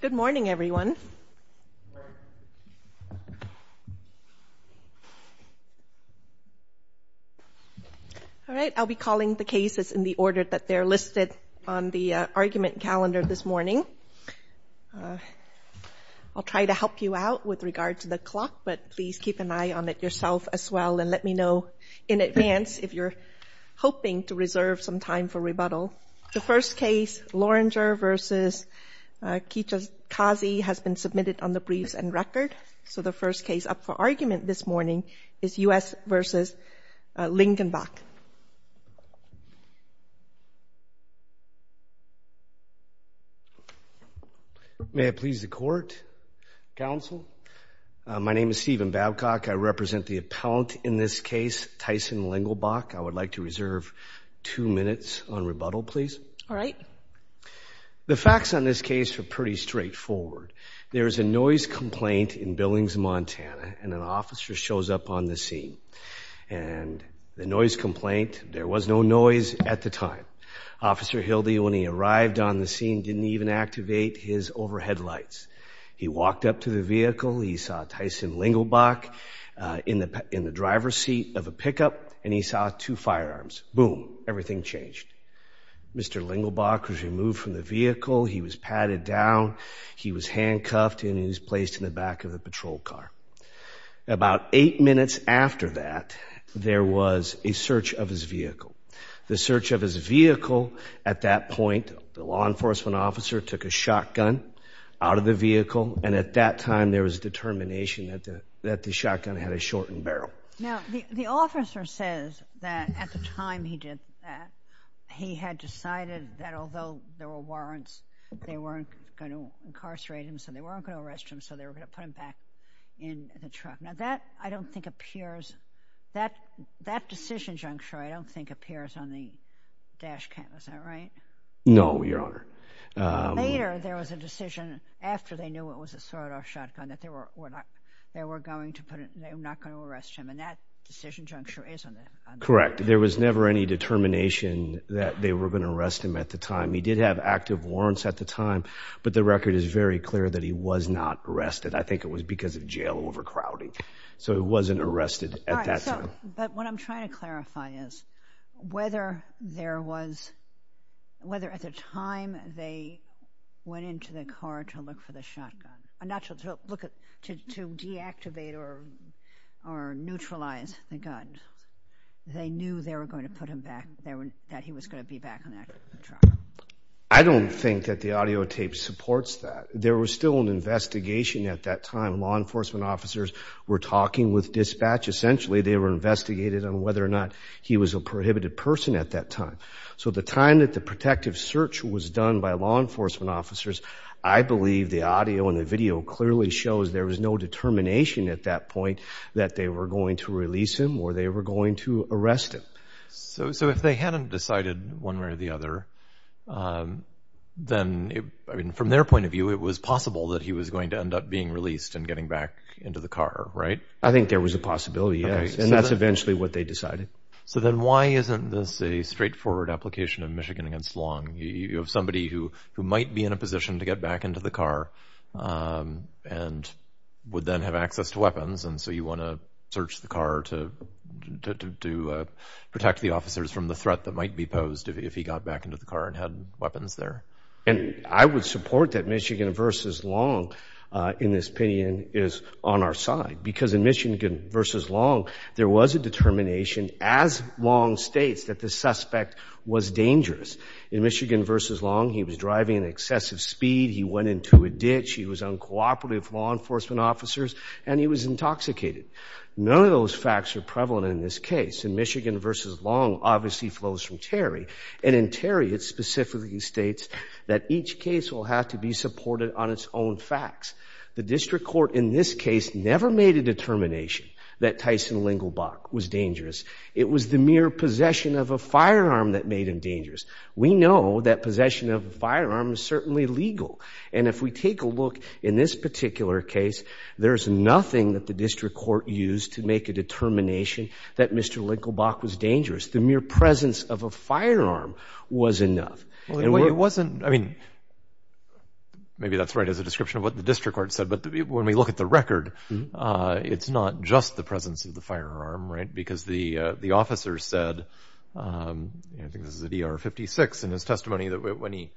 Good morning, everyone. All right, I'll be calling the cases in the order that they're listed on the argument calendar this morning. I'll try to help you out with regard to the clock, but please keep an eye on it yourself as well, and let me know in advance if you're hoping to reserve some time for rebuttal. So the first case, Loringer v. Kitchakazi, has been submitted on the briefs and record. So the first case up for argument this morning is U.S. v. Lingenbach. May I please the court, counsel? My name is Stephen Babcock. I represent the appellant in this case, Tyson Lingelbach. I would like to reserve two minutes on rebuttal, please. All right. The facts on this case are pretty straightforward. There is a noise complaint in Billings, Montana, and an officer shows up on the scene. And the noise complaint, there was no noise at the time. Officer Hilde, when he arrived on the scene, didn't even activate his overhead lights. He walked up to the vehicle, he saw Tyson Lingelbach in the driver's seat of a pickup, and he saw two firearms. Boom, everything changed. Mr. Lingelbach was removed from the vehicle, he was padded down, he was handcuffed, and he was placed in the back of a patrol car. About eight minutes after that, there was a search of his vehicle. The search of his vehicle at that point, the law enforcement officer took a shotgun out of the vehicle, and at that time there was determination that the shotgun had a shortened barrel. Now, the officer says that at the time he did that, he had decided that although there were warrants, they weren't going to incarcerate him, so they weren't going to arrest him, so they were going to put him back in the truck. Now, that, I don't think, appears, that decision juncture, I don't think, appears on the dash cam. Is that right? No, Your Honor. Later, there was a decision, after they knew it was a sawed-off shotgun, that they were not going to arrest him, and that decision juncture is on the dash cam. Correct. There was never any determination that they were going to arrest him at the time. He did have active warrants at the time, but the record is very clear that he was not arrested. I think it was because of jail overcrowding, so he wasn't arrested at that time. But what I'm trying to clarify is whether there was, whether at the time they went into the car to look for the shotgun, not to look at, to deactivate or neutralize the gun, they knew they were going to put him back, that he was going to be back in that truck. I don't think that the audio tape supports that. There was still an investigation at that time. Law enforcement officers were talking with dispatch. Essentially, they were investigating on whether or not he was a prohibited person at that time. So the time that the protective search was done by law enforcement officers, I believe the audio and the video clearly shows there was no determination at that point that they were going to release him or they were going to arrest him. So if they hadn't decided one way or the other, then from their point of view, it was possible that he was going to end up being released and getting back into the car, right? I think there was a possibility, yes, and that's eventually what they decided. So then why isn't this a straightforward application of Michigan against Long? You have somebody who might be in a position to get back into the car and would then have access to weapons, and so you want to search the car to protect the officers from the threat that might be posed if he got back into the car and had weapons there. And I would support that Michigan versus Long, in this opinion, is on our side because in Michigan versus Long, there was a determination as Long states that the suspect was dangerous. In Michigan versus Long, he was driving at excessive speed, he went into a ditch, he was uncooperative with law enforcement officers, and he was intoxicated. None of those facts are prevalent in this case. In Michigan versus Long, obviously it flows from Terry, and in Terry it specifically states that each case will have to be supported on its own facts. The district court in this case never made a determination that Tyson Lingelbach was dangerous. It was the mere possession of a firearm that made him dangerous. We know that possession of a firearm is certainly legal, and if we take a look in this particular case, there is nothing that the district court used to make a determination that Mr. Lingelbach was dangerous. The mere presence of a firearm was enough. It wasn't, I mean, maybe that's right as a description of what the district court said, but when we look at the record, it's not just the presence of the firearm, right, because the officer said, I think this is at ER 56, in his testimony, that when he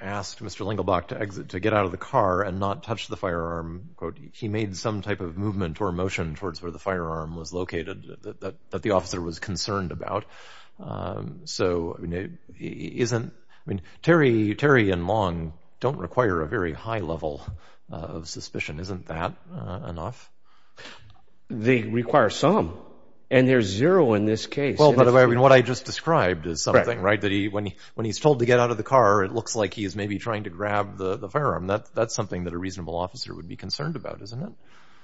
asked Mr. Lingelbach to exit, to get out of the car and not touch the firearm, quote, he made some type of movement or motion towards where the firearm was located that the officer was concerned about. So, isn't, I mean, Terry and Long don't require a very high level of suspicion. Isn't that enough? They require some, and there's zero in this case. Well, by the way, I mean, what I just described is something, right, that when he's told to get out of the car, it looks like he is maybe trying to grab the firearm. That's something that a reasonable officer would be concerned about, isn't it?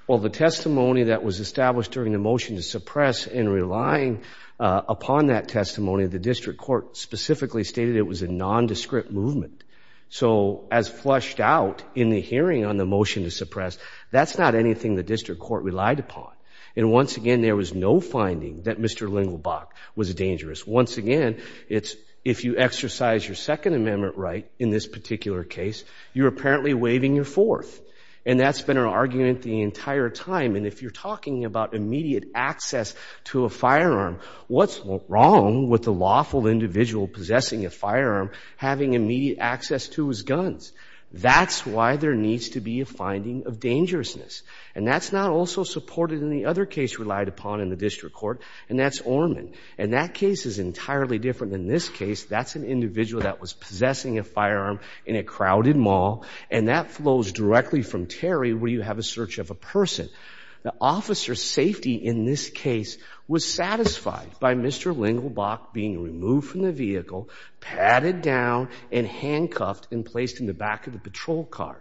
Well, the testimony that was established during the motion to suppress and relying upon that testimony, the district court specifically stated it was a nondescript movement. So, as flushed out in the hearing on the motion to suppress, that's not anything the district court relied upon. And once again, there was no finding that Mr. Lingelbach was dangerous. Once again, it's if you exercise your Second Amendment right in this particular case, you're apparently waiving your fourth. And that's been our argument the entire time. And if you're talking about immediate access to a firearm, what's wrong with a lawful individual possessing a firearm, having immediate access to his guns? That's why there needs to be a finding of dangerousness. And that's not also supported in the other case relied upon in the district court, and that's Orman. And that case is entirely different than this case. That's an individual that was possessing a firearm in a crowded mall, and that flows directly from Terry where you have a search of a person. The officer's safety in this case was satisfied by Mr. Lingelbach being removed from the vehicle, padded down, and handcuffed and placed in the back of the patrol car.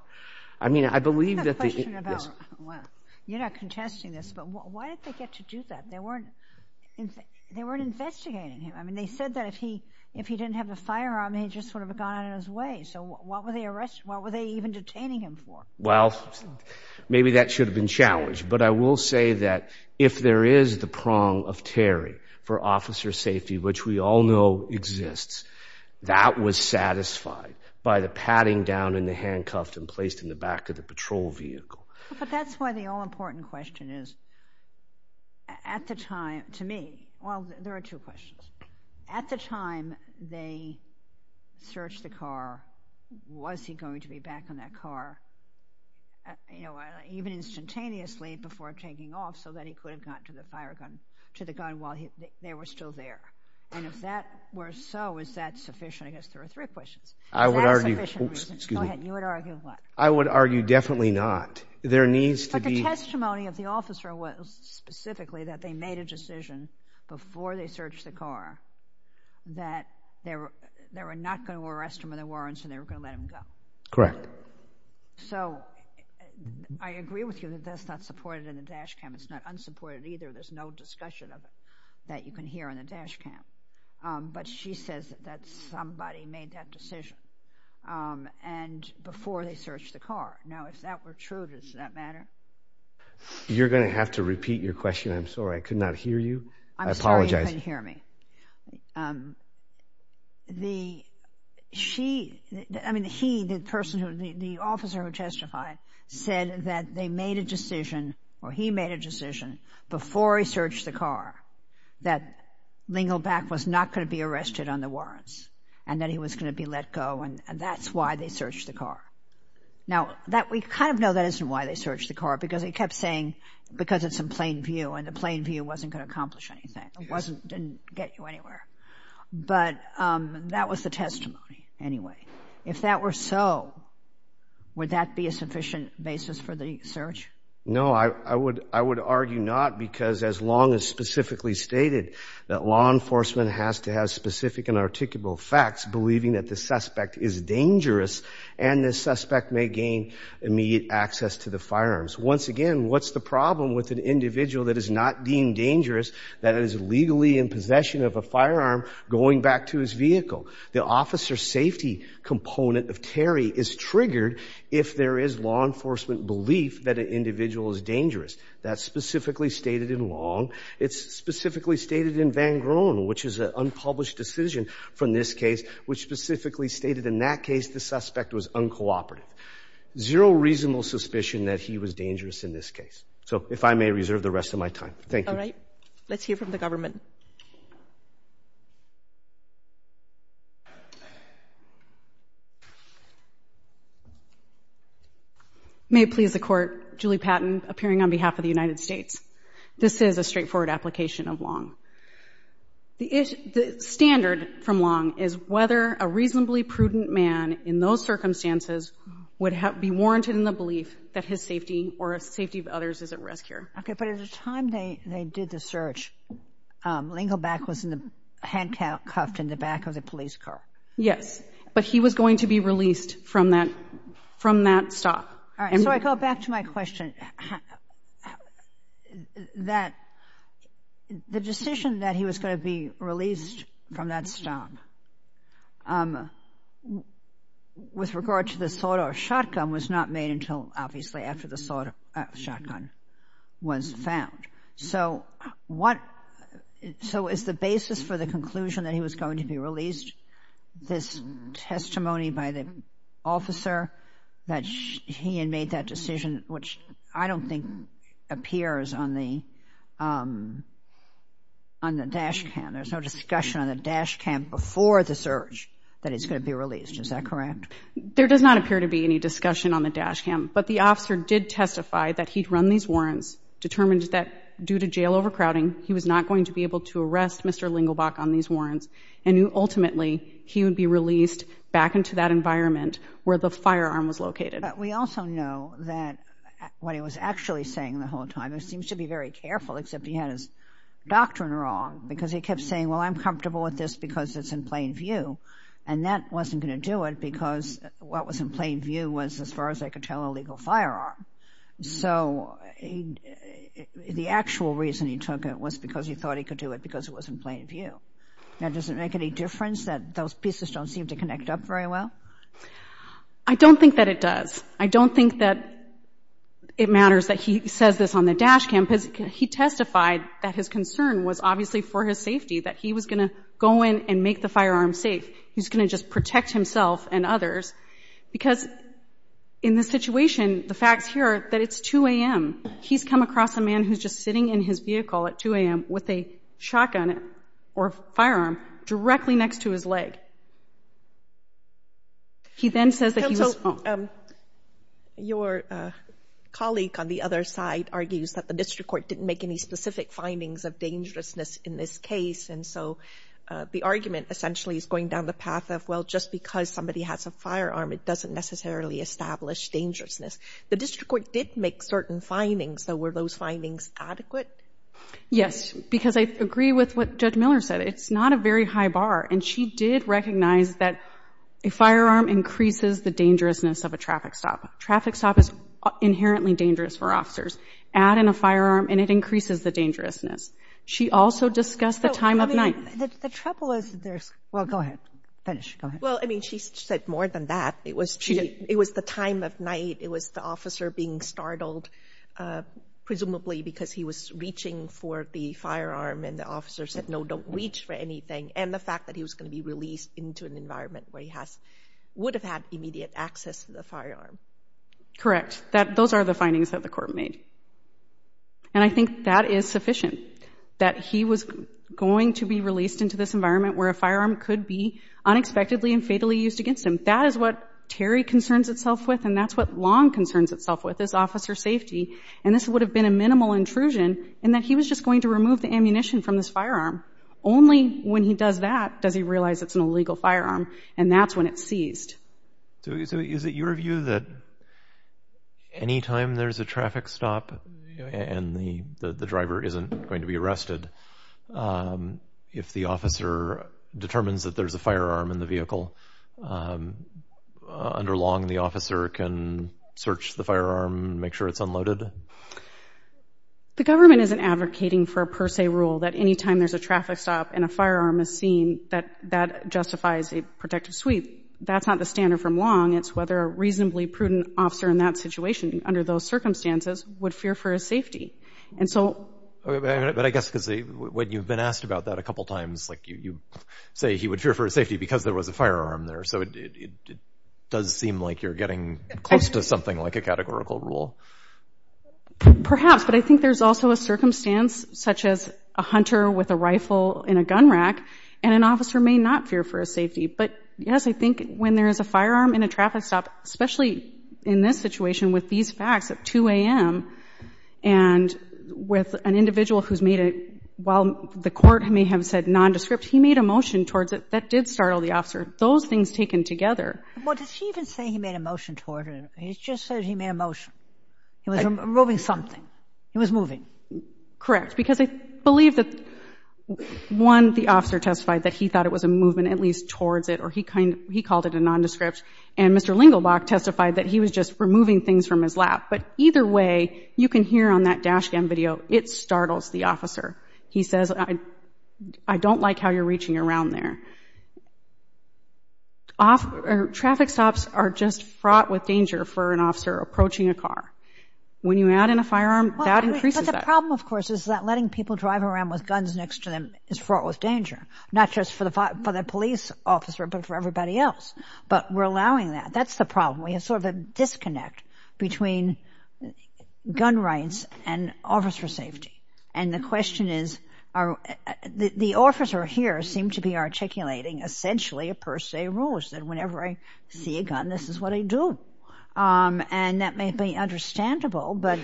I mean, I believe that the— I have a question about— Yes. You're not contesting this, but why did they get to do that? They weren't investigating him. I mean, they said that if he didn't have a firearm, he just would have gone out of his way. So what were they even detaining him for? Well, maybe that should have been challenged. But I will say that if there is the prong of Terry for officer safety, which we all know exists, that was satisfied by the padding down and the handcuffed and placed in the back of the patrol vehicle. But that's why the all-important question is, at the time, to me—well, there are two questions. At the time they searched the car, was he going to be back in that car? You know, even instantaneously before taking off so that he could have gotten to the gun while they were still there? And if that were so, is that sufficient? I guess there are three questions. I would argue— Is that a sufficient reason? Go ahead. You would argue what? I would argue definitely not. There needs to be— But the testimony of the officer was specifically that they made a decision before they searched the car that they were not going to arrest him in the warrants and they were going to let him go. Correct. So I agree with you that that's not supported in the dash cam. It's not unsupported either. There's no discussion of it that you can hear in the dash cam. But she says that somebody made that decision before they searched the car. Now, if that were true, does that matter? You're going to have to repeat your question. I'm sorry. I could not hear you. I apologize. I'm sorry you couldn't hear me. The—she—I mean, he, the person who—the officer who testified said that they made a decision or he made a decision before he searched the car that Lingelback was not going to be arrested on the warrants and that he was going to be let go, and that's why they searched the car. Now, we kind of know that isn't why they searched the car because he kept saying because it's in plain view and the plain view wasn't going to accomplish anything. It wasn't—didn't get you anywhere. But that was the testimony anyway. If that were so, would that be a sufficient basis for the search? No, I would argue not because as long as specifically stated that law enforcement has to have specific and articulable facts believing that the suspect is dangerous and the suspect may gain immediate access to the firearms. Once again, what's the problem with an individual that is not deemed dangerous, that is legally in possession of a firearm going back to his vehicle? The officer safety component of Terry is triggered if there is law enforcement belief that an individual is dangerous. That's specifically stated in Long. It's specifically stated in Van Groen, which is an unpublished decision from this case, which specifically stated in that case the suspect was uncooperative. Zero reasonable suspicion that he was dangerous in this case. So if I may reserve the rest of my time. All right. Let's hear from the government. May it please the Court, Julie Patton appearing on behalf of the United States. This is a straightforward application of Long. The standard from Long is whether a reasonably prudent man in those circumstances would be warranted in the belief that his safety or the safety of others is at risk here. Okay. But at the time they did the search, Lingelback was handcuffed in the back of the police car. Yes. But he was going to be released from that stop. All right. So I go back to my question, that the decision that he was going to be released from that stop with regard to the sawed-off shotgun was not made until, obviously, after the sawed-off shotgun was found. So is the basis for the conclusion that he was going to be released this testimony by the officer that he had made that decision, which I don't think appears on the dash cam. There's no discussion on the dash cam before the search that he's going to be released. Is that correct? There does not appear to be any discussion on the dash cam. But the officer did testify that he'd run these warrants, determined that due to jail overcrowding, he was not going to be able to arrest Mr. Lingelback on these warrants, and ultimately he would be released back into that environment where the firearm was located. But we also know that what he was actually saying the whole time, he seems to be very careful, except he had his doctrine wrong, because he kept saying, well, I'm comfortable with this because it's in plain view, and that wasn't going to do it because what was in plain view was as far as I could tell a legal firearm. So the actual reason he took it was because he thought he could do it because it was in plain view. Now, does it make any difference that those pieces don't seem to connect up very well? I don't think that it does. I don't think that it matters that he says this on the dash cam because he testified that his concern was obviously for his safety, that he was going to go in and make the firearm safe. He was going to just protect himself and others. Because in this situation, the facts here are that it's 2 a.m. He's come across a man who's just sitting in his vehicle at 2 a.m. with a shotgun or firearm directly next to his leg. He then says that he was... Counsel, your colleague on the other side argues that the district court didn't make any specific findings of dangerousness in this case, and so the argument essentially is going down the path of, well, just because somebody has a firearm, it doesn't necessarily establish dangerousness. The district court did make certain findings. So were those findings adequate? Yes, because I agree with what Judge Miller said. It's not a very high bar, and she did recognize that a firearm increases the dangerousness of a traffic stop. Traffic stop is inherently dangerous for officers. Add in a firearm and it increases the dangerousness. She also discussed the time of night. The trouble is there's... Well, go ahead. Finish. Go ahead. Well, I mean, she said more than that. It was the time of night. It was the officer being startled, presumably because he was reaching for the firearm, and the officer said, no, don't reach for anything, and the fact that he was going to be released into an environment where he would have had immediate access to the firearm. Correct. Those are the findings that the court made. And I think that is sufficient, that he was going to be released into this environment where a firearm could be unexpectedly and fatally used against him. That is what Terry concerns itself with, and that's what Long concerns itself with as officer safety, and this would have been a minimal intrusion in that he was just going to remove the ammunition from this firearm. Only when he does that does he realize it's an illegal firearm, and that's when it's seized. So is it your view that any time there's a traffic stop and the driver isn't going to be arrested, if the officer determines that there's a firearm in the vehicle, under Long the officer can search the firearm and make sure it's unloaded? The government isn't advocating for a per se rule that any time there's a traffic stop and a firearm is seen, that that justifies a protective sweep. That's not the standard from Long. It's whether a reasonably prudent officer in that situation under those circumstances would fear for his safety. And so... But I guess because when you've been asked about that a couple times, like you say he would fear for his safety because there was a firearm there, so it does seem like you're getting close to something like a categorical rule. Perhaps, but I think there's also a circumstance such as a hunter with a rifle in a gun rack, and an officer may not fear for his safety. But, yes, I think when there is a firearm in a traffic stop, especially in this situation with these facts at 2 a.m., and with an individual who's made it, while the court may have said nondescript, he made a motion towards it that did startle the officer. Those things taken together... Well, did he even say he made a motion towards it? He just said he made a motion. He was removing something. He was moving. Correct, because I believe that, one, the officer testified that he thought it was a movement at least towards it, or he called it a nondescript, and Mr. Lingelbach testified that he was just removing things from his lap. But either way, you can hear on that dash cam video, it startles the officer. He says, I don't like how you're reaching around there. Traffic stops are just fraught with danger for an officer approaching a car. When you add in a firearm, that increases that. But the problem, of course, is that letting people drive around with guns next to them is fraught with danger, not just for the police officer but for everybody else. But we're allowing that. That's the problem. We have sort of a disconnect between gun rights and officer safety. And the question is, the officer here seemed to be articulating, essentially, a per se rule. He said, whenever I see a gun, this is what I do. And that may be understandable, but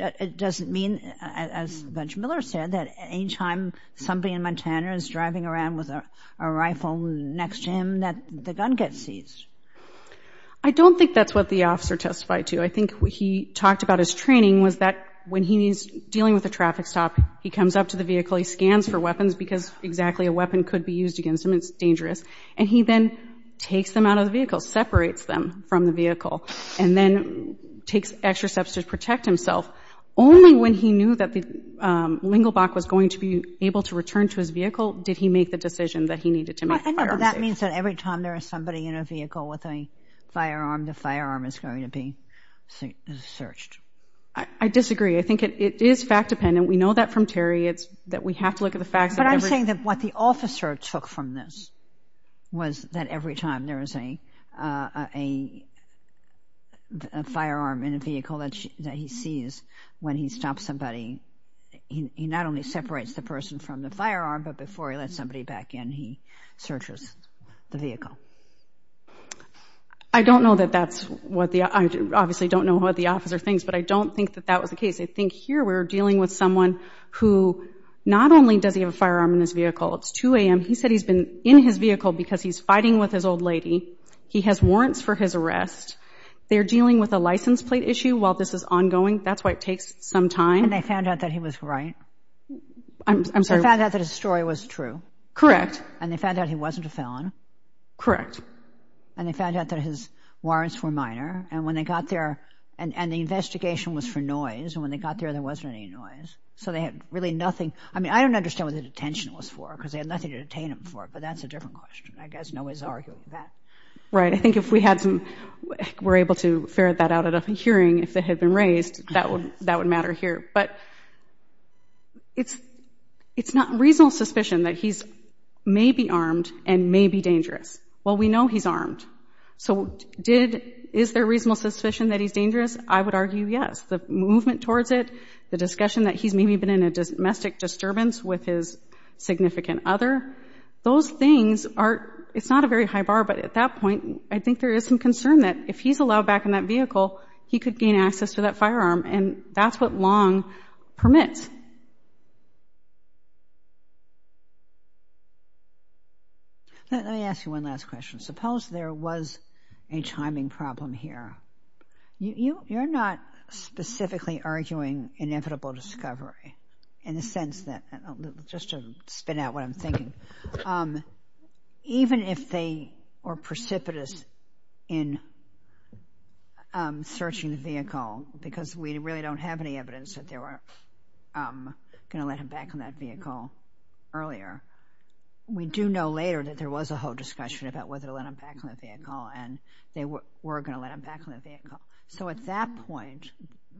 it doesn't mean, as Judge Miller said, that any time somebody in Montana is driving around with a rifle next to him, that the gun gets seized. I don't think that's what the officer testified to. I think what he talked about his training was that when he's dealing with a traffic stop, he comes up to the vehicle, he scans for weapons because exactly a weapon could be used against him. It's dangerous. And he then takes them out of the vehicle, separates them from the vehicle, and then takes extra steps to protect himself. Only when he knew that the lingelbach was going to be able to return to his vehicle did he make the decision that he needed to make the firearm safe. But that means that every time there is somebody in a vehicle with a firearm, the firearm is going to be searched. I disagree. I think it is fact-dependent. We know that from tariots, that we have to look at the facts. But I'm saying that what the officer took from this was that every time there is a firearm in a vehicle that he sees, when he stops somebody, he not only separates the person from the firearm, but before he lets somebody back in, he searches the vehicle. I don't know that that's what the officer thinks, but I don't think that that was the case. I think here we're dealing with someone who not only does he have a firearm in his vehicle, it's 2 a.m. He said he's been in his vehicle because he's fighting with his old lady. He has warrants for his arrest. They're dealing with a license plate issue while this is ongoing. That's why it takes some time. And they found out that he was right? I'm sorry. They found out that his story was true? Correct. And they found out he wasn't a felon? Correct. And they found out that his warrants were minor? And when they got there, and the investigation was for noise, and when they got there, there wasn't any noise. So they had really nothing. I mean, I don't understand what the detention was for because they had nothing to detain him for, but that's a different question. I guess no one's arguing that. Right. I think if we were able to ferret that out at a hearing, if it had been raised, that would matter here. But it's not reasonable suspicion that he may be armed and may be dangerous. Well, we know he's armed. So is there reasonable suspicion that he's dangerous? I would argue yes. The movement towards it, the discussion that he's maybe been in a domestic disturbance with his significant other, those things are – it's not a very high bar, but at that point, I think there is some concern that if he's allowed back in that vehicle, he could gain access to that firearm. And that's what Long permits. Let me ask you one last question. Suppose there was a timing problem here. You're not specifically arguing inevitable discovery in the sense that – just to spin out what I'm thinking. Even if they are precipitous in searching the vehicle because we really don't have any evidence that they were going to let him back in that vehicle earlier, we do know later that there was a whole discussion about whether to let him back in the vehicle and they were going to let him back in the vehicle. So at that point,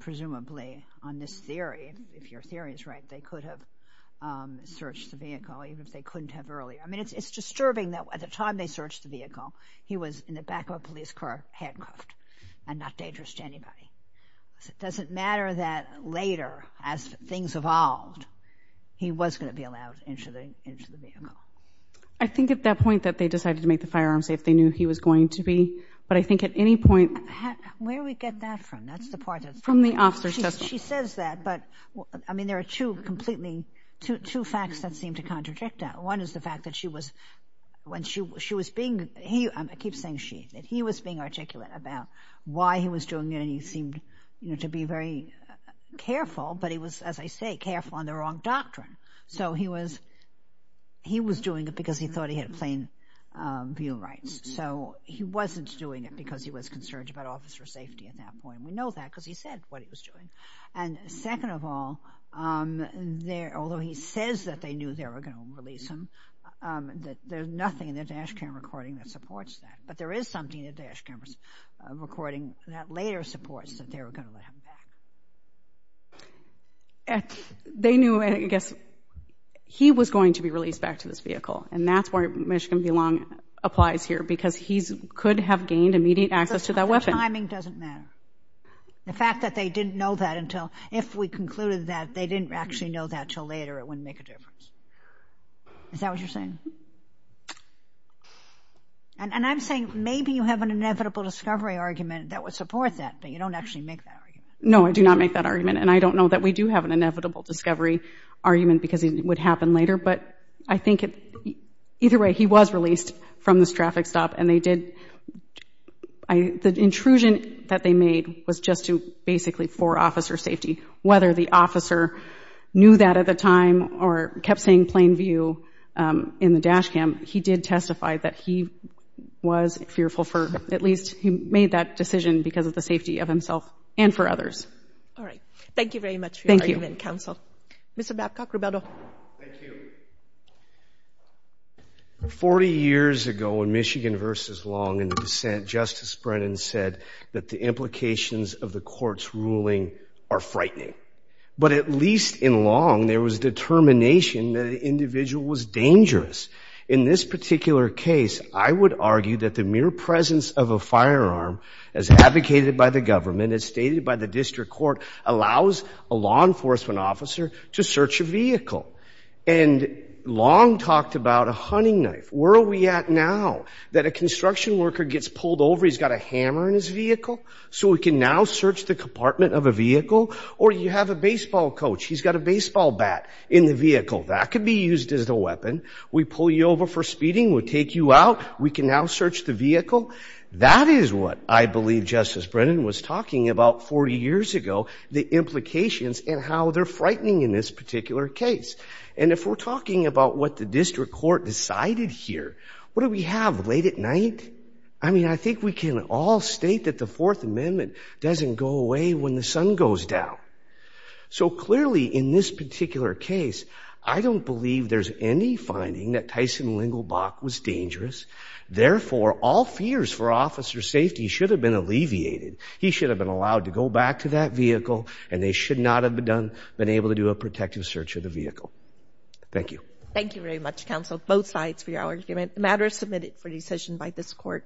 presumably, on this theory, if your theory is right, they could have searched the vehicle even if they couldn't have earlier. I mean, it's disturbing that at the time they searched the vehicle, he was in the back of a police car handcuffed and not dangerous to anybody. So it doesn't matter that later, as things evolved, he was going to be allowed into the vehicle. I think at that point that they decided to make the firearms safe, they knew he was going to be. But I think at any point – Where do we get that from? That's the part that's – From the officer's testimony. She says that, but, I mean, there are two completely – two facts that seem to contradict that. One is the fact that she was – when she was being – I keep saying she. That he was being articulate about why he was doing it and he seemed to be very careful, but he was, as I say, careful on the wrong doctrine. So he was doing it because he thought he had plain view rights. So he wasn't doing it because he was concerned about officer safety at that point. We know that because he said what he was doing. And second of all, although he says that they knew they were going to release him, there's nothing in the dash cam recording that supports that. But there is something in the dash cameras recording that later supports that they were going to let him back. They knew, I guess, he was going to be released back to this vehicle, and that's where Michigan Belong applies here because he could have gained immediate access to that weapon. The timing doesn't matter. The fact that they didn't know that until – if we concluded that they didn't actually know that until later, it wouldn't make a difference. Is that what you're saying? And I'm saying maybe you have an inevitable discovery argument that would support that, but you don't actually make that argument. No, I do not make that argument, and I don't know that we do have an inevitable discovery argument because it would happen later, but I think either way he was released from this traffic stop, and they did – the intrusion that they made was just to basically – for officer safety. Whether the officer knew that at the time or kept saying plain view in the dash cam, he did testify that he was fearful for – at least he made that decision because of the safety of himself and for others. All right. Thank you very much for your argument, counsel. Thank you. Mr. Babcock, Roberto. Thank you. Forty years ago in Michigan v. Long in the dissent, Justice Brennan said that the implications of the court's ruling are frightening. But at least in Long there was determination that the individual was dangerous. In this particular case, I would argue that the mere presence of a firearm, as advocated by the government, as stated by the district court, allows a law enforcement officer to search a vehicle. And Long talked about a hunting knife. Where are we at now that a construction worker gets pulled over, he's got a hammer in his vehicle, so he can now search the compartment of a vehicle? Or you have a baseball coach, he's got a baseball bat in the vehicle. That could be used as a weapon. We pull you over for speeding, we take you out, we can now search the vehicle. That is what I believe Justice Brennan was talking about 40 years ago, the implications and how they're frightening in this particular case. And if we're talking about what the district court decided here, what do we have, late at night? I mean, I think we can all state that the Fourth Amendment doesn't go away when the sun goes down. So clearly in this particular case, I don't believe there's any finding that Tyson Lengelbach was dangerous. Therefore, all fears for officer safety should have been alleviated. He should have been allowed to go back to that vehicle, and they should not have been able to do a protective search of the vehicle. Thank you. Thank you very much, counsel, both sides for your argument. The matter is submitted for decision by this court.